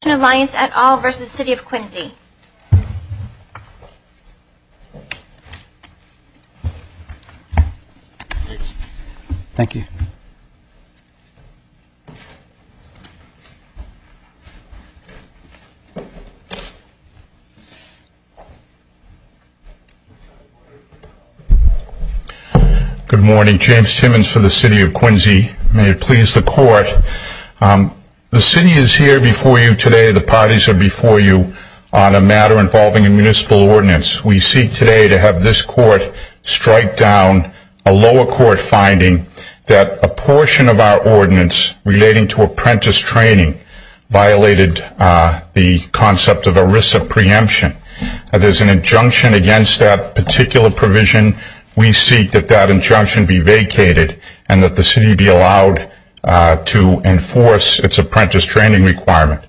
Good morning, James Simmons for the City of Quincy. May it please the Court, the City is here before you today, the parties are before you, on a matter involving a Municipal Ordinance. We seek today to have this Court strike down a lower Court finding that a portion of our Ordinance relating to Apprentice Training violated the concept of ERISA preemption. If there's an injunction against that particular provision, we seek that that injunction be vacated and that the City be allowed to enforce its Apprentice Training requirement.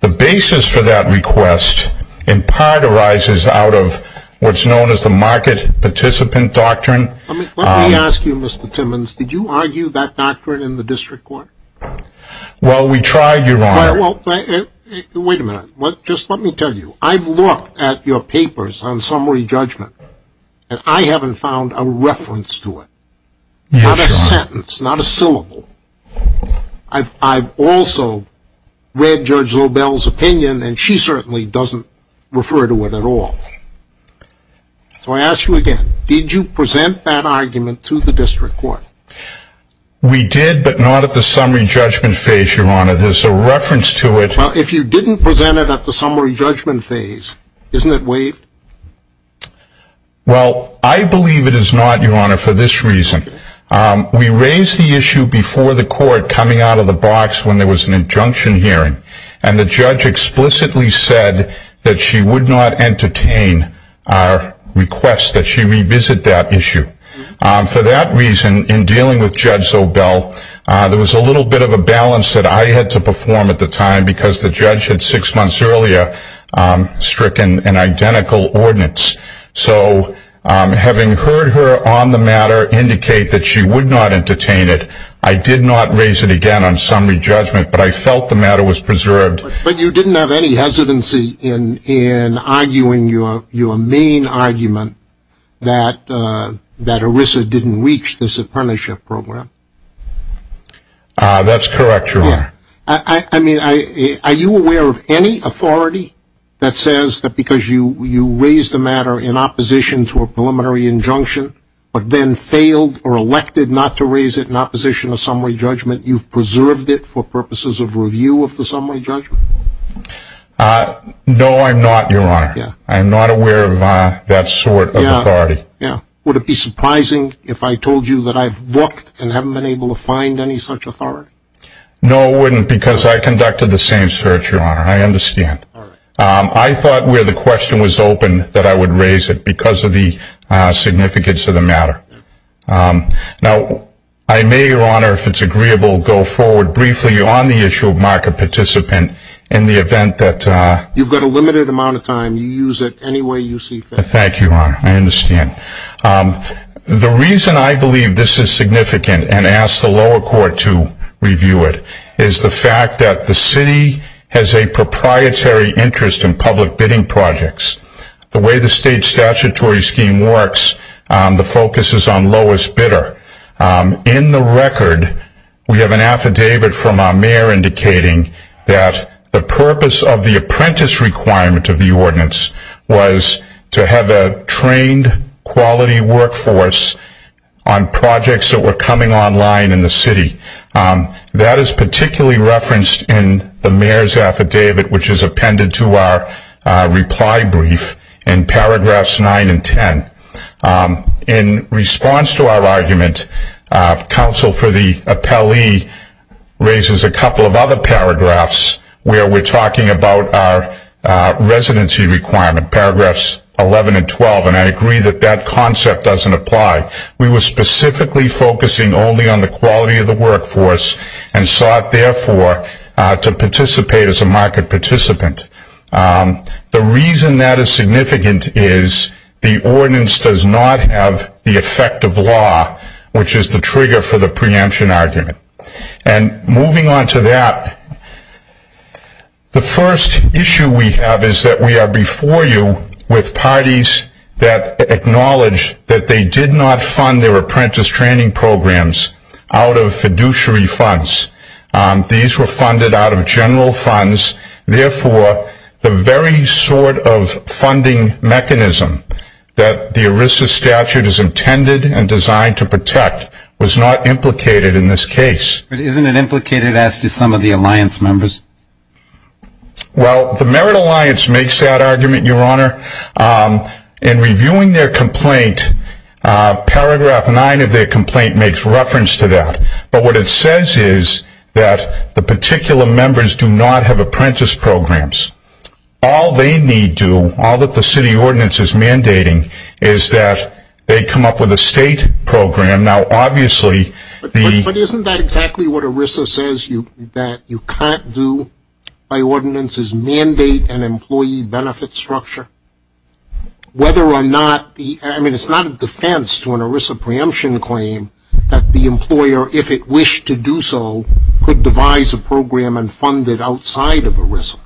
The basis for that request, in part, arises out of what's known as the Market Participant Doctrine. Let me ask you, Mr. Timmons, did you argue that doctrine in the District Court? Well, we tried, Your Honor. Wait a minute, just let me tell you, I've looked at your papers on summary judgment and I haven't found a reference to it. Yes, Your Honor. Not a sentence, not a syllable. I've also read Judge Lobel's opinion and she certainly doesn't refer to it at all. So I ask you again, did you present that argument to the District Court? We did, but not at the summary judgment phase, Your Honor. There's a reference to it... Well, if you didn't present it at the summary judgment phase, isn't it waived? Well, I believe it is not, Your Honor, for this reason. We raised the issue before the Court coming out of the box when there was an injunction hearing. And the Judge explicitly said that she would not entertain our request that she revisit that issue. For that reason, in dealing with Judge Lobel, there was a little bit of a balance that I had to perform at the time because the Judge had six months earlier stricken an identical ordinance. So, having heard her on the matter indicate that she would not entertain it, I did not raise it again on summary judgment, but I felt the matter was preserved. But you didn't have any hesitancy in arguing your main argument that ERISA didn't reach the Supreme Apprenticeship Program? That's correct, Your Honor. Are you aware of any authority that says that because you raised the matter in opposition to a preliminary injunction, but then failed or elected not to raise it in opposition to summary judgment, you've preserved it for purposes of review of the summary judgment? No, I'm not, Your Honor. I'm not aware of that sort of authority. Would it be surprising if I told you that I've looked and haven't been able to find any such authority? No, it wouldn't because I conducted the same search, Your Honor. I understand. I thought where the question was open that I would raise it because of the significance of the matter. Now, I may, Your Honor, if it's agreeable, go forward briefly on the issue of market participant in the event that... You've got a limited amount of time. You use it any way you see fit. Thank you, Your Honor. I understand. The reason I believe this is significant and ask the lower court to review it is the fact that the city has a proprietary interest in public bidding projects. The way the state statutory scheme works, the focus is on lowest bidder. In the record, we have an affidavit from our mayor indicating that the purpose of the apprentice requirement of the ordinance was to have a trained, quality workforce on projects that were coming online in the city. That is particularly referenced in the mayor's affidavit, which is appended to our reply brief in paragraphs 9 and 10. In response to our argument, counsel for the appellee raises a couple of other paragraphs where we're talking about our residency requirement, paragraphs 11 and 12, and I agree that that concept doesn't apply. We were specifically focusing only on the quality of the workforce and sought, therefore, to participate as a market participant. The reason that is significant is the ordinance does not have the effect of law, which is the trigger for the preemption argument. Moving on to that, the first issue we have is that we are before you with parties that acknowledge that they did not fund their apprentice training programs out of fiduciary funds. These were funded out of general funds. Therefore, the very sort of funding mechanism that the ERISA statute is intended and designed to protect was not implicated in this case. But isn't it implicated, as do some of the alliance members? Well, the Merit Alliance makes that argument, Your Honor. In reviewing their complaint, paragraph 9 of their complaint makes reference to that. But what it says is that the particular members do not have apprentice programs. All they need to do, all that the city ordinance is mandating, is that they come up with a state program. Now, obviously, the But isn't that exactly what ERISA says, that you can't do by ordinances mandate an employee benefit structure? I mean, it's not a defense to an ERISA preemption claim that the employer, if it wished to do so, could devise a program and fund it outside of ERISA.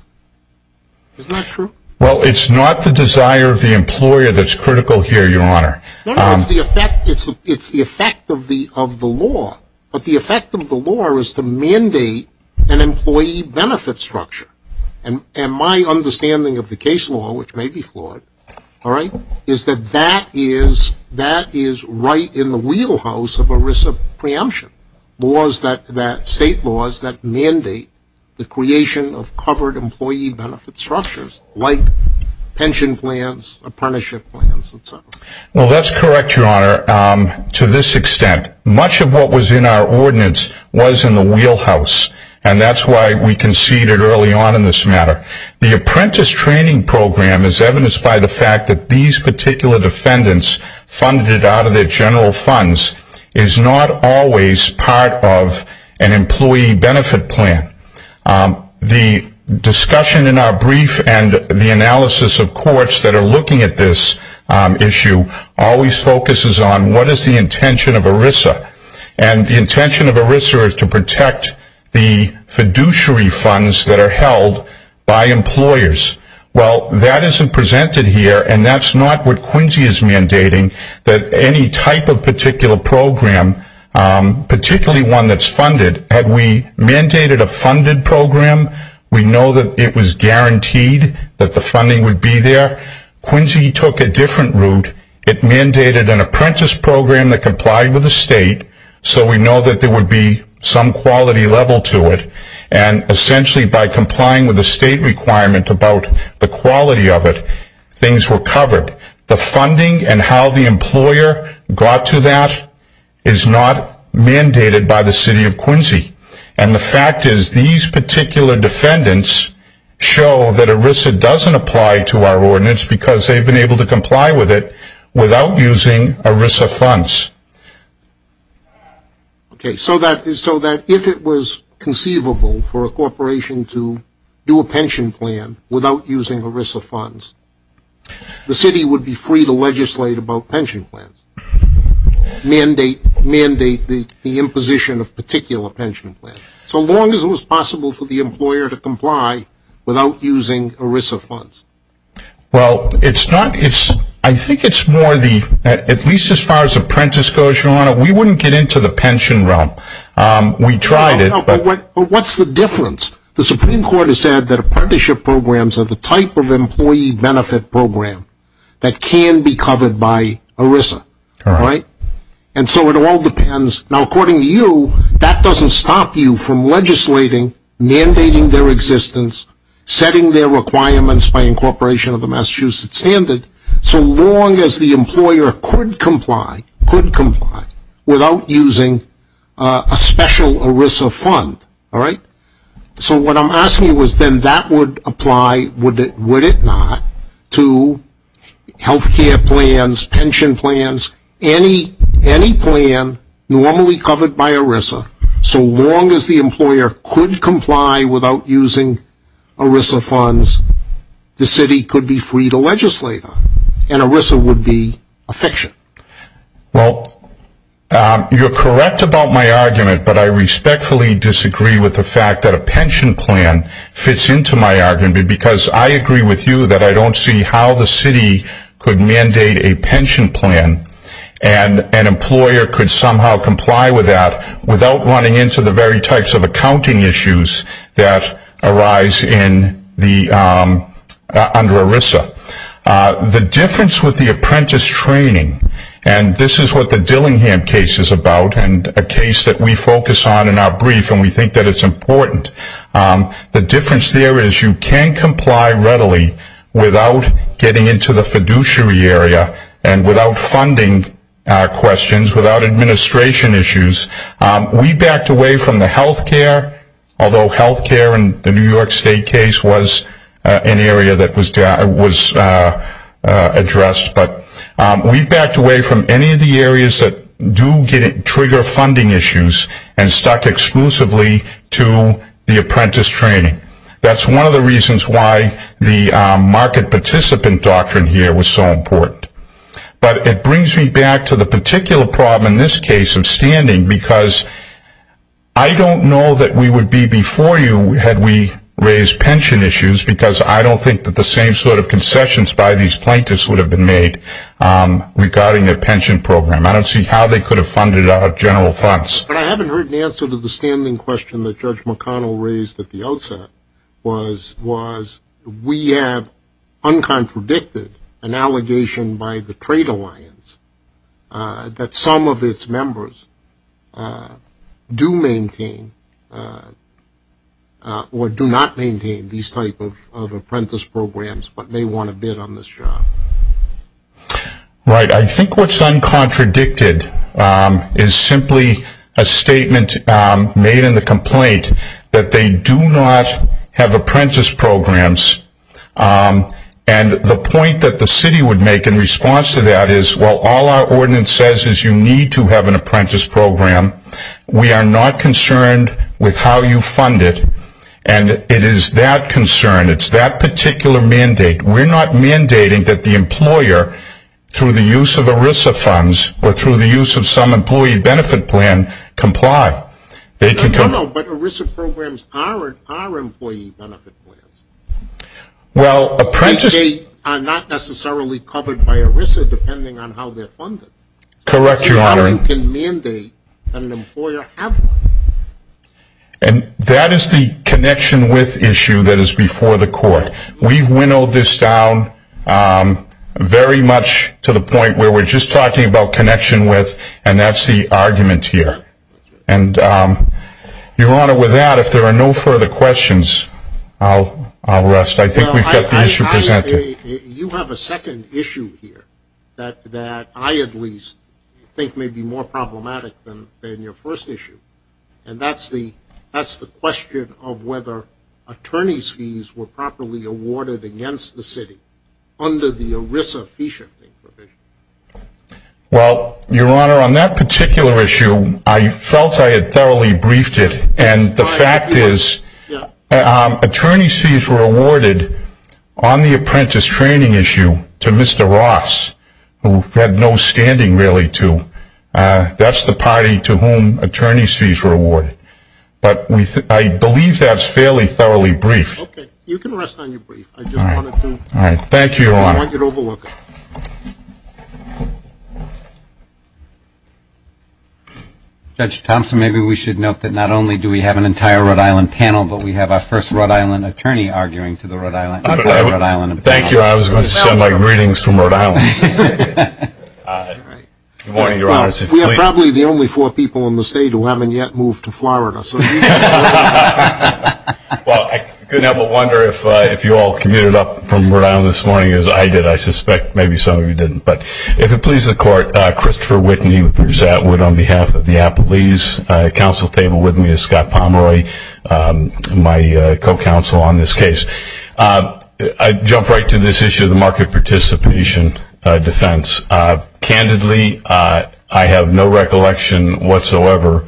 Isn't that true? Well, it's not the desire of the employer that's critical here, Your Honor. No, no, it's the effect of the law. But the effect of the law is to mandate an employee benefit structure. And my understanding of the case law, which may be flawed, is that that is right in the wheelhouse of ERISA preemption. State laws that mandate the creation of covered employee benefit structures, like pension plans, apprenticeship plans, et cetera. Well, that's correct, Your Honor, to this extent. Much of what was in our ordinance was in the wheelhouse. And that's why we conceded early on in this matter. The apprentice training program is evidenced by the fact that these particular defendants funded it out of their general funds is not always part of an employee benefit plan. The discussion in our brief and the analysis of courts that are looking at this issue always focuses on what is the intention of ERISA. And the intention of ERISA is to protect the fiduciary funds that are held by employers. Well, that isn't presented here, and that's not what Quincy is mandating, that any type of particular program, particularly one that's funded, had we mandated a funded program, we know that it was guaranteed that the funding would be there. Quincy took a different route. It mandated an apprentice program that complied with the state, so we know that there would be some quality level to it. And essentially by complying with the state requirement about the quality of it, things were covered. The funding and how the employer got to that is not mandated by the city of Quincy. And the fact is these particular defendants show that ERISA doesn't apply to our ordinance because they've been able to comply with it without using ERISA funds. Okay, so that if it was conceivable for a corporation to do a pension plan without using ERISA funds, the city would be free to legislate about pension plans, mandate the imposition of particular pension plans, so long as it was possible for the employer to comply without using ERISA funds. Well, I think it's more the, at least as far as apprentice goes, your honor, we wouldn't get into the pension realm. We tried it. But what's the difference? The Supreme Court has said that apprenticeship programs are the type of employee benefit program that can be covered by ERISA. And so it all depends. Now, according to you, that doesn't stop you from legislating, mandating their existence, setting their requirements by incorporation of the Massachusetts standard, so long as the employer could comply without using a special ERISA fund. All right? So what I'm asking you is then that would apply, would it not, to health care plans, pension plans, any plan normally covered by ERISA, so long as the employer could comply without using ERISA funds, the city could be free to legislate on it, and ERISA would be a fiction. Well, you're correct about my argument, but I respectfully disagree with the fact that a pension plan fits into my argument because I agree with you that I don't see how the city could mandate a pension plan and an employer could somehow comply with that without running into the very types of accounting issues that arise under ERISA. The difference with the apprentice training, and this is what the Dillingham case is about, and a case that we focus on in our brief and we think that it's important, the difference there is you can comply readily without getting into the fiduciary area and without funding questions, without administration issues. We backed away from the health care, although health care in the New York State case was an area that was addressed, but we backed away from any of the areas that do trigger funding issues and stuck exclusively to the apprentice training. That's one of the reasons why the market participant doctrine here was so important. But it brings me back to the particular problem in this case of standing because I don't know that we would be before you had we raised pension issues because I don't think that the same sort of concessions by these plaintiffs would have been made regarding their pension program. I don't see how they could have funded it out of general funds. But I haven't heard an answer to the standing question that Judge McConnell raised at the outset, was we have uncontradicted an allegation by the trade alliance that some of its members do maintain or do not maintain these type of apprentice programs, but they want to bid on this job. Right, I think what's uncontradicted is simply a statement made in the complaint that they do not have apprentice programs. And the point that the city would make in response to that is, well, all our ordinance says is you need to have an apprentice program. We are not concerned with how you fund it. And it is that concern, it's that particular mandate. We're not mandating that the employer, through the use of ERISA funds or through the use of some employee benefit plan, comply. No, no, but ERISA programs are employee benefit plans. They are not necessarily covered by ERISA depending on how they're funded. Correct, Your Honor. So how can you mandate that an employer have one? And that is the connection with issue that is before the court. We've winnowed this down very much to the point where we're just talking about connection with and that's the argument here. And, Your Honor, with that, if there are no further questions, I'll rest. I think we've got the issue presented. You have a second issue here that I, at least, think may be more problematic than your first issue, and that's the question of whether attorney's fees were properly awarded against the city under the ERISA fee-shipping provision. Well, Your Honor, on that particular issue, I felt I had thoroughly briefed it, and the fact is attorney's fees were awarded on the apprentice training issue to Mr. Ross, who had no standing, really, to. That's the party to whom attorney's fees were awarded. But I believe that's fairly thoroughly briefed. Okay. All right. Thank you, Your Honor. I want you to overlook it. Judge Thompson, maybe we should note that not only do we have an entire Rhode Island panel, but we have our first Rhode Island attorney arguing to the entire Rhode Island panel. Thank you. I was going to send my greetings from Rhode Island. Good morning, Your Honor. We are probably the only four people in the state who haven't yet moved to Florida. Well, I couldn't help but wonder if you all commuted up from Rhode Island this morning as I did. I suspect maybe some of you didn't. But if it pleases the Court, Christopher Whitney, Bruce Atwood on behalf of the Applebee's Council table with me, and Scott Pomeroy, my co-counsel on this case. I jump right to this issue of the market participation defense. Candidly, I have no recollection whatsoever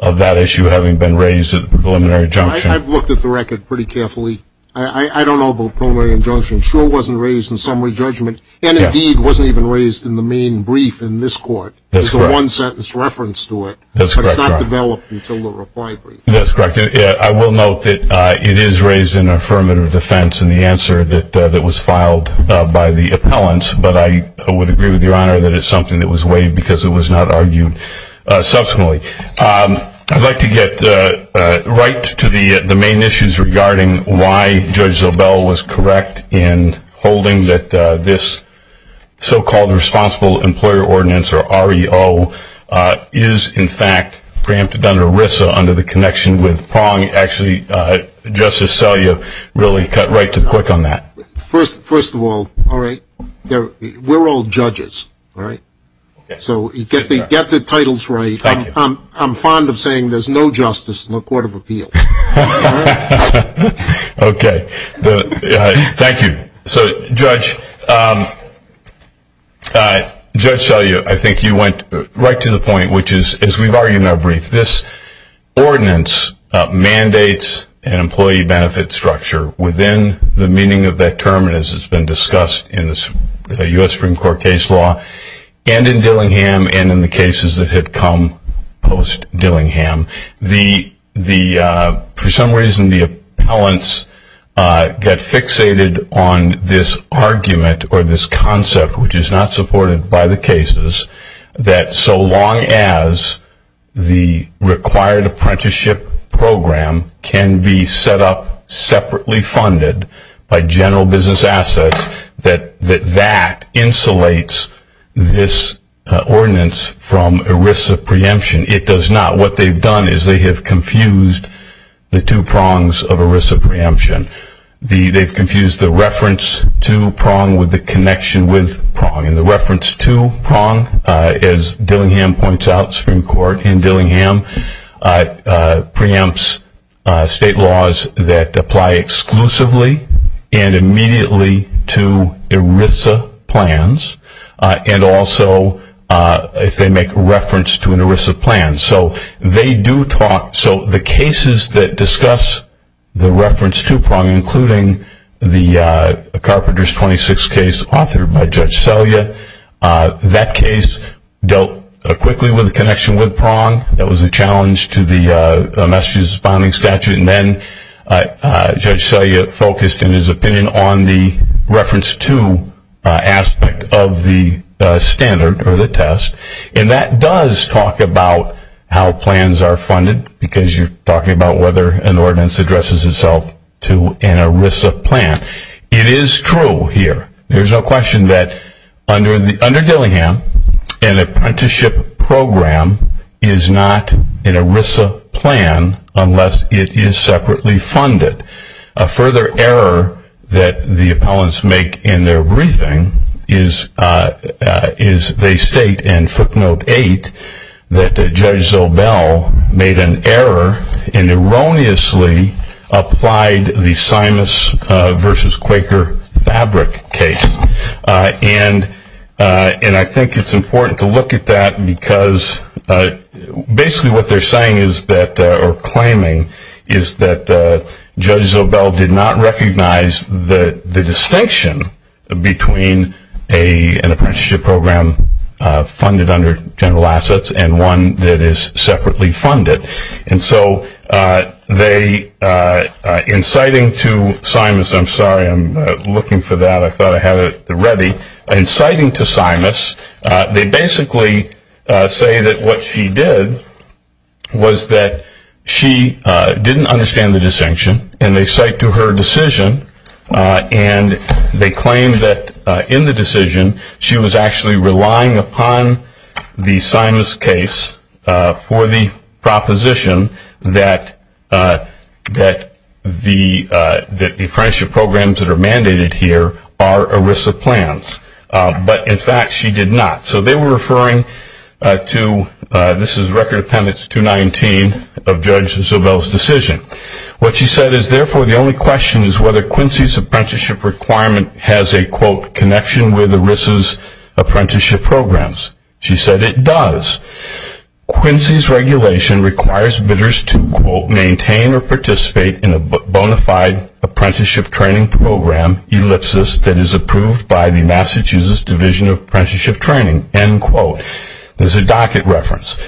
of that issue having been raised at the preliminary injunction. I've looked at the record pretty carefully. I don't know about preliminary injunction. It sure wasn't raised in summary judgment. And, indeed, it wasn't even raised in the main brief in this Court. There's a one-sentence reference to it. That's correct, Your Honor. But it's not developed until the reply brief. That's correct. I will note that it is raised in affirmative defense in the answer that was filed by the appellants. But I would agree with Your Honor that it's something that was waived because it was not argued subsequently. I'd like to get right to the main issues regarding why Judge Zobel was correct in holding that this so-called Responsible Employer Ordinance, or REO, is, in fact, preempted under RISA under the connection with Prong. Actually, Justice Salia really cut right to the quick on that. First of all, all right, we're all judges, all right? So get the titles right. I'm fond of saying there's no justice in the Court of Appeals. Okay. Thank you. So, Judge Salia, I think you went right to the point, which is, as we've argued in our brief, this ordinance mandates an employee benefit structure within the meaning of that term, as has been discussed in the U.S. Supreme Court case law and in Dillingham and in the cases that had come post-Dillingham. For some reason, the appellants got fixated on this argument or this concept, which is not supported by the cases, that so long as the required apprenticeship program can be set up separately funded by general business assets, that that insulates this ordinance from a RISA preemption. It does not. What they've done is they have confused the two prongs of a RISA preemption. They've confused the reference to prong with the connection with prong. And the reference to prong, as Dillingham points out, Supreme Court in Dillingham, preempts state laws that apply exclusively and immediately to RISA plans and also if they make reference to an RISA plan. So the cases that discuss the reference to prong, including the Carpenters 26 case authored by Judge Selya, that case dealt quickly with the connection with prong. That was a challenge to the message-responding statute. And then Judge Selya focused in his opinion on the reference to aspect of the standard or the test. And that does talk about how plans are funded, because you're talking about whether an ordinance addresses itself to an RISA plan. It is true here. There's no question that under Dillingham, an apprenticeship program is not an RISA plan unless it is separately funded. A further error that the appellants make in their briefing is they state in footnote 8 that Judge Zobel made an error and erroneously applied the Simas versus Quaker fabric case. And I think it's important to look at that because basically what they're saying is that Judge Zobel did not recognize the distinction between an apprenticeship program funded under general assets and one that is separately funded. And so they, inciting to Simas, I'm sorry, I'm looking for that. I thought I had it ready. inciting to Simas, they basically say that what she did was that she didn't understand the distinction and they cite to her decision and they claim that in the decision she was actually relying upon the Simas case for the proposition that the apprenticeship programs that are mandated here are RISA plans. But in fact she did not. So they were referring to, this is Record Appendix 219 of Judge Zobel's decision. What she said is therefore the only question is whether Quincy's apprenticeship requirement has a quote connection with RISA's apprenticeship programs. She said it does. Quincy's regulation requires bidders to quote maintain or participate in a bona fide apprenticeship training program ellipsis that is approved by the Massachusetts Division of Apprenticeship Training, end quote. There's a docket reference.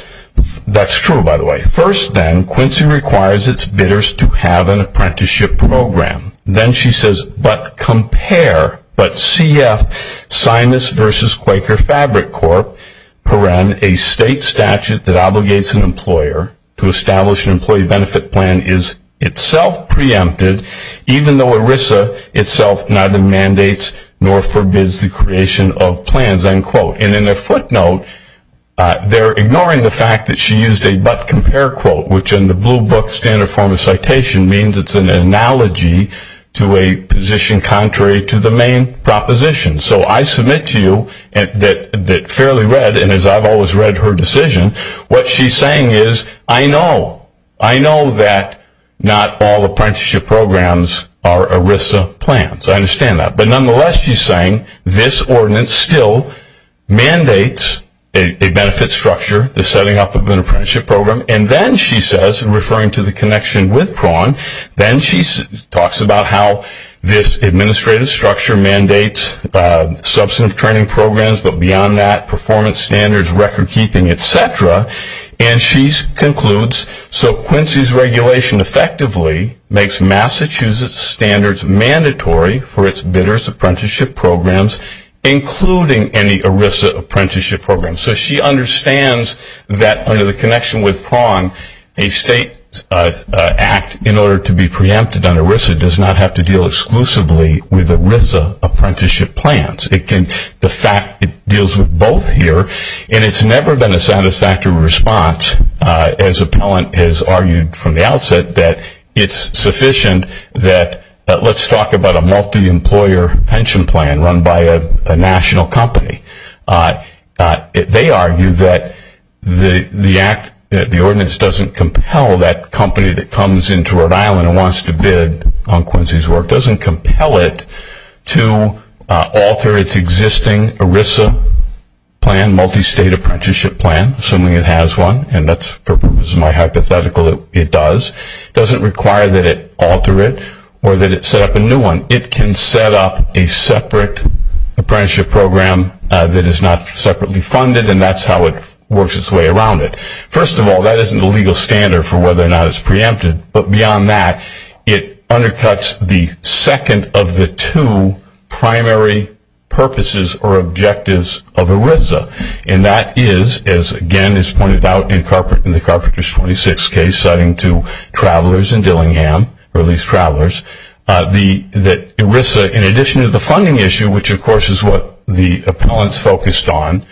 That's true by the way. First then, Quincy requires its bidders to have an apprenticeship program. Then she says, but compare, but CF, Simas versus Quaker Fabric Corp, a state statute that obligates an employer to establish an employee benefit plan is itself preempted, even though RISA itself neither mandates nor forbids the creation of plans, end quote. And in a footnote, they're ignoring the fact that she used a but compare quote, which in the blue book standard form of citation means it's an analogy to a position contrary to the main proposition. So I submit to you that fairly read, and as I've always read her decision, what she's saying is I know. I know that not all apprenticeship programs are RISA plans. I understand that. But nonetheless, she's saying this ordinance still mandates a benefit structure, the setting up of an apprenticeship program. And then she says, referring to the connection with Prawn, then she talks about how this administrative structure mandates substantive training programs, but beyond that, performance standards, record keeping, et cetera. And she concludes, so Quincy's regulation effectively makes Massachusetts standards mandatory for its bidder's apprenticeship programs, including any RISA apprenticeship programs. So she understands that under the connection with Prawn, a state act in order to be preempted under RISA does not have to deal exclusively with RISA apprenticeship plans. The fact it deals with both here, and it's never been a satisfactory response, as Appellant has argued from the outset that it's sufficient that let's talk about a multi-employer pension plan run by a national company. They argue that the ordinance doesn't compel that company that comes into Rhode Island and wants to bid on Quincy's work, doesn't compel it to alter its existing RISA plan, multi-state apprenticeship plan, assuming it has one. And that's my hypothetical, it does. It doesn't require that it alter it or that it set up a new one. It can set up a separate apprenticeship program that is not separately funded, and that's how it works its way around it. First of all, that isn't a legal standard for whether or not it's preempted. But beyond that, it undercuts the second of the two primary purposes or objectives of a RISA. And that is, as again is pointed out in the Carpenters 26 case citing two travelers in Dillingham, or at least travelers, that RISA, in addition to the funding issue, which of course is what the appellants focused on,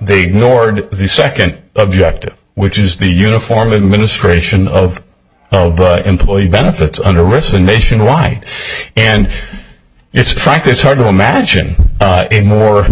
they ignored the second objective, which is the uniform administration of employee benefits under RISA nationwide. And frankly, it's hard to imagine a more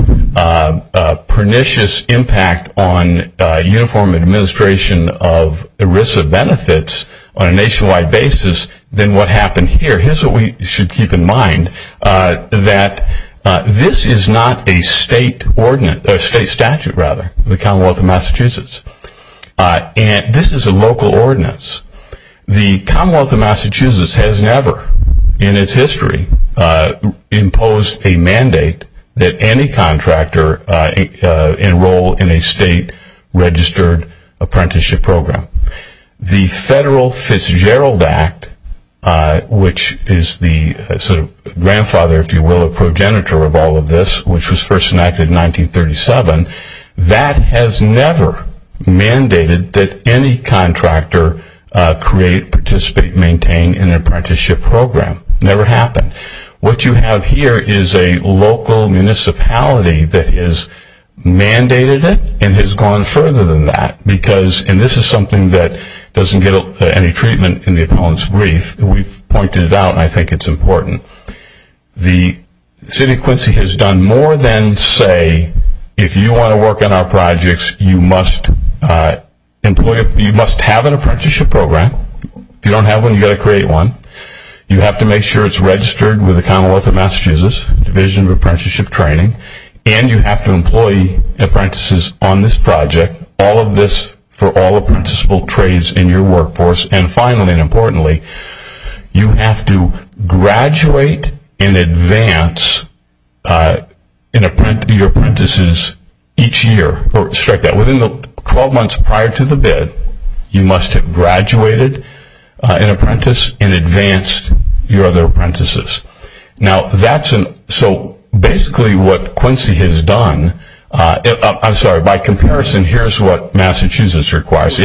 pernicious impact on uniform administration of RISA benefits on a nationwide basis than what happened here. Here's what we should keep in mind, that this is not a state statute, the Commonwealth of Massachusetts. And this is a local ordinance. The Commonwealth of Massachusetts has never in its history imposed a mandate that any contractor enroll in a state registered apprenticeship program. The Federal Fitzgerald Act, which is the sort of grandfather, if you will, or progenitor of all of this, which was first enacted in 1937, that has never mandated that any contractor create, participate, maintain an apprenticeship program. Never happened. What you have here is a local municipality that has mandated it and has gone further than that. And this is something that doesn't get any treatment in the appellant's brief. We've pointed it out and I think it's important. The city of Quincy has done more than say, if you want to work on our projects, you must have an apprenticeship program. If you don't have one, you've got to create one. You have to make sure it's registered with the Commonwealth of Massachusetts, Division of Apprenticeship Training, and you have to employ apprentices on this project. All of this for all apprenticeable trades in your workforce. And finally and importantly, you have to graduate and advance your apprentices each year. Within the 12 months prior to the bid, you must have graduated an apprentice and advanced your other apprentices. Now, that's basically what Quincy has done. I'm sorry, by comparison, here's what Massachusetts requires.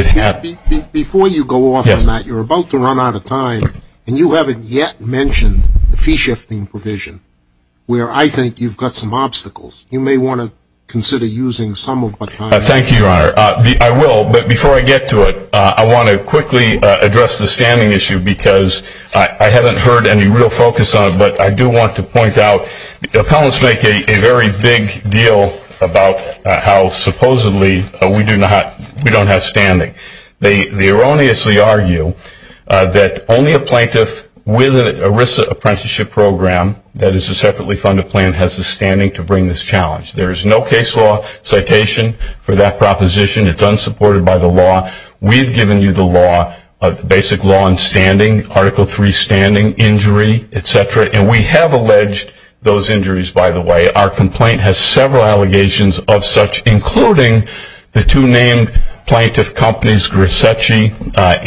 Before you go off on that, you're about to run out of time and you haven't yet mentioned the fee shifting provision, where I think you've got some obstacles. You may want to consider using some of the time. Thank you, Your Honor. I will, but before I get to it, I want to quickly address the standing issue because I haven't heard any real focus on it, but I do want to point out appellants make a very big deal about how supposedly we don't have standing. They erroneously argue that only a plaintiff with an ERISA apprenticeship program that is a separately funded plan has the standing to bring this challenge. There is no case law citation for that proposition. It's unsupported by the law. We've given you the law, basic law in standing, Article III standing, injury, etc., and we have alleged those injuries, by the way. Our complaint has several allegations of such, including the two named plaintiff companies, Grisecci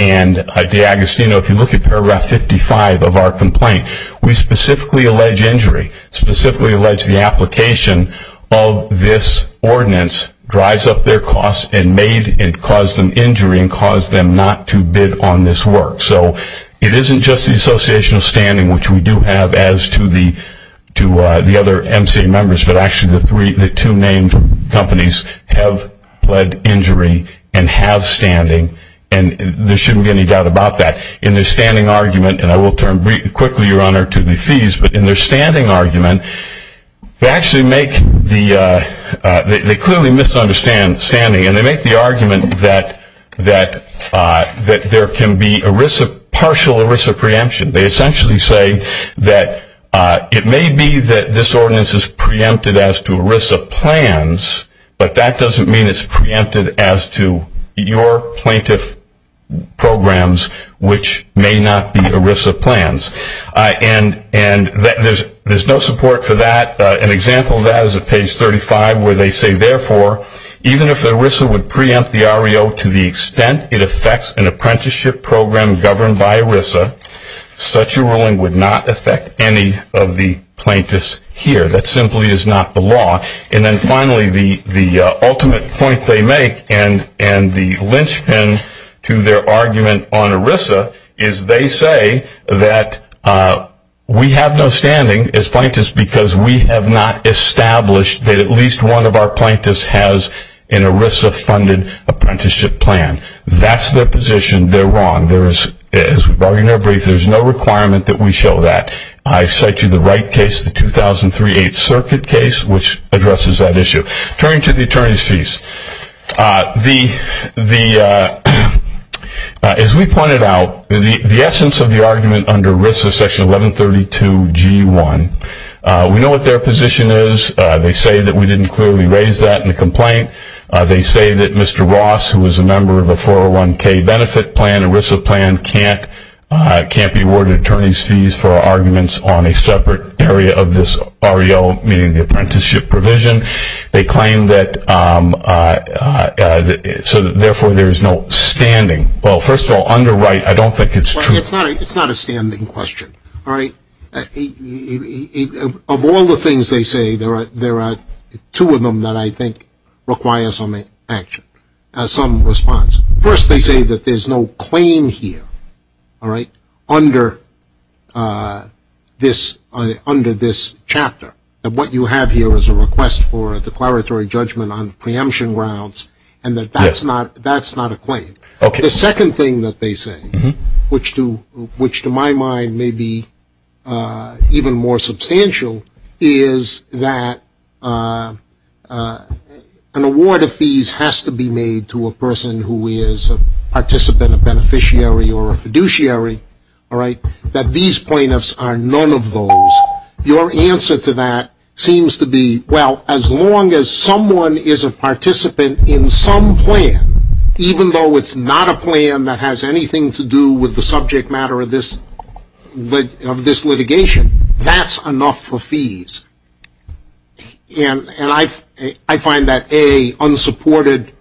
and D'Agostino. If you look at Paragraph 55 of our complaint, we specifically allege injury, specifically allege the application of this ordinance drives up their costs and caused them injury and caused them not to bid on this work. So it isn't just the association of standing, which we do have as to the other MCA members, but actually the two named companies have led injury and have standing, and there shouldn't be any doubt about that. In their standing argument, and I will turn quickly, Your Honor, to the fees, but in their standing argument, they clearly misunderstand standing, and they make the argument that there can be partial ERISA preemption. They essentially say that it may be that this ordinance is preempted as to ERISA plans, but that doesn't mean it's preempted as to your plaintiff programs, which may not be ERISA plans. And there's no support for that. An example of that is at page 35, where they say, therefore, even if ERISA would preempt the REO to the extent it affects an apprenticeship program governed by ERISA, such a ruling would not affect any of the plaintiffs here. That simply is not the law. And then finally, the ultimate point they make, and the linchpin to their argument on ERISA, is they say that we have no standing as plaintiffs because we have not established that at least one of our plaintiffs has an ERISA-funded apprenticeship plan. That's their position. They're wrong. As we've argued in our brief, there's no requirement that we show that. I cite you the Wright case, the 2003 8th Circuit case, which addresses that issue. Turning to the attorney's fees, as we pointed out, the essence of the argument under ERISA, section 1132 G1, we know what their position is. They say that we didn't clearly raise that in the complaint. They say that Mr. Ross, who is a member of a 401k benefit plan, ERISA plan, can't be awarded attorney's fees for arguments on a separate area of this REO, meaning the apprenticeship provision. They claim that therefore there is no standing. Well, first of all, under Wright, I don't think it's true. It's not a standing question. All right? Of all the things they say, there are two of them that I think require some action, some response. First, they say that there's no claim here, all right, under this chapter, that what you have here is a request for a declaratory judgment on preemption grounds, and that that's not a claim. The second thing that they say, which to my mind may be even more substantial, is that an award of fees has to be made to a person who is a participant, a beneficiary, or a fiduciary, all right, that these plaintiffs are none of those. Your answer to that seems to be, well, as long as someone is a participant in some plan, even though it's not a plan that has anything to do with the subject matter of this litigation, that's enough for fees. And I find that, A, unsupported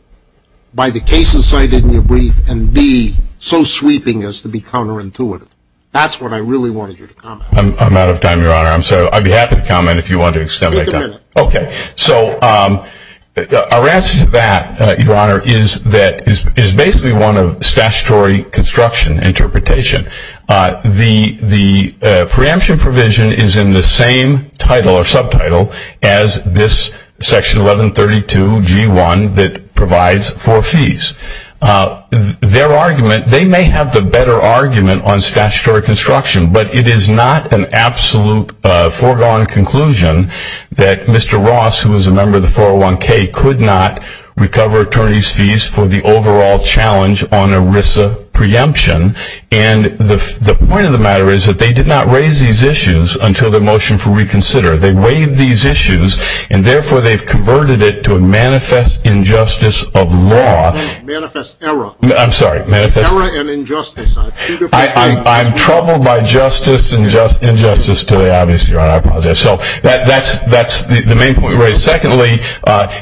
by the cases cited in your brief, and, B, so sweeping as to be counterintuitive. That's what I really wanted you to comment on. I'm out of time, Your Honor. I'm sorry. I'd be happy to comment if you want to extend my time. Take a minute. Okay. So our answer to that, Your Honor, is that it is basically one of statutory construction interpretation. The preemption provision is in the same title or subtitle as this Section 1132G1 that provides for fees. Their argument, they may have the better argument on statutory construction, but it is not an absolute foregone conclusion that Mr. Ross, who is a member of the 401K, could not recover attorney's fees for the overall challenge on ERISA preemption. And the point of the matter is that they did not raise these issues until the motion for reconsider. They waived these issues, and, therefore, they've converted it to a manifest injustice of law. Manifest error. I'm sorry. Error and injustice. Two different things. I'm troubled by justice and injustice today, obviously, Your Honor. I apologize. So that's the main point we raised. Secondly,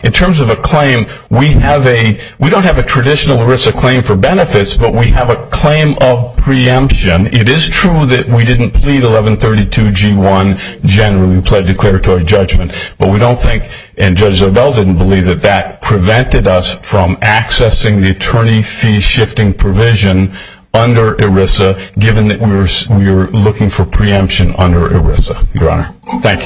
in terms of a claim, we don't have a traditional ERISA claim for benefits, but we have a claim of preemption. It is true that we didn't plead 1132G1 generally. We pled declaratory judgment. But we don't think, and Judge Zobel didn't believe, that that prevented us from accessing the attorney fee shifting provision under ERISA, given that we were looking for preemption under ERISA, Your Honor. Thank you.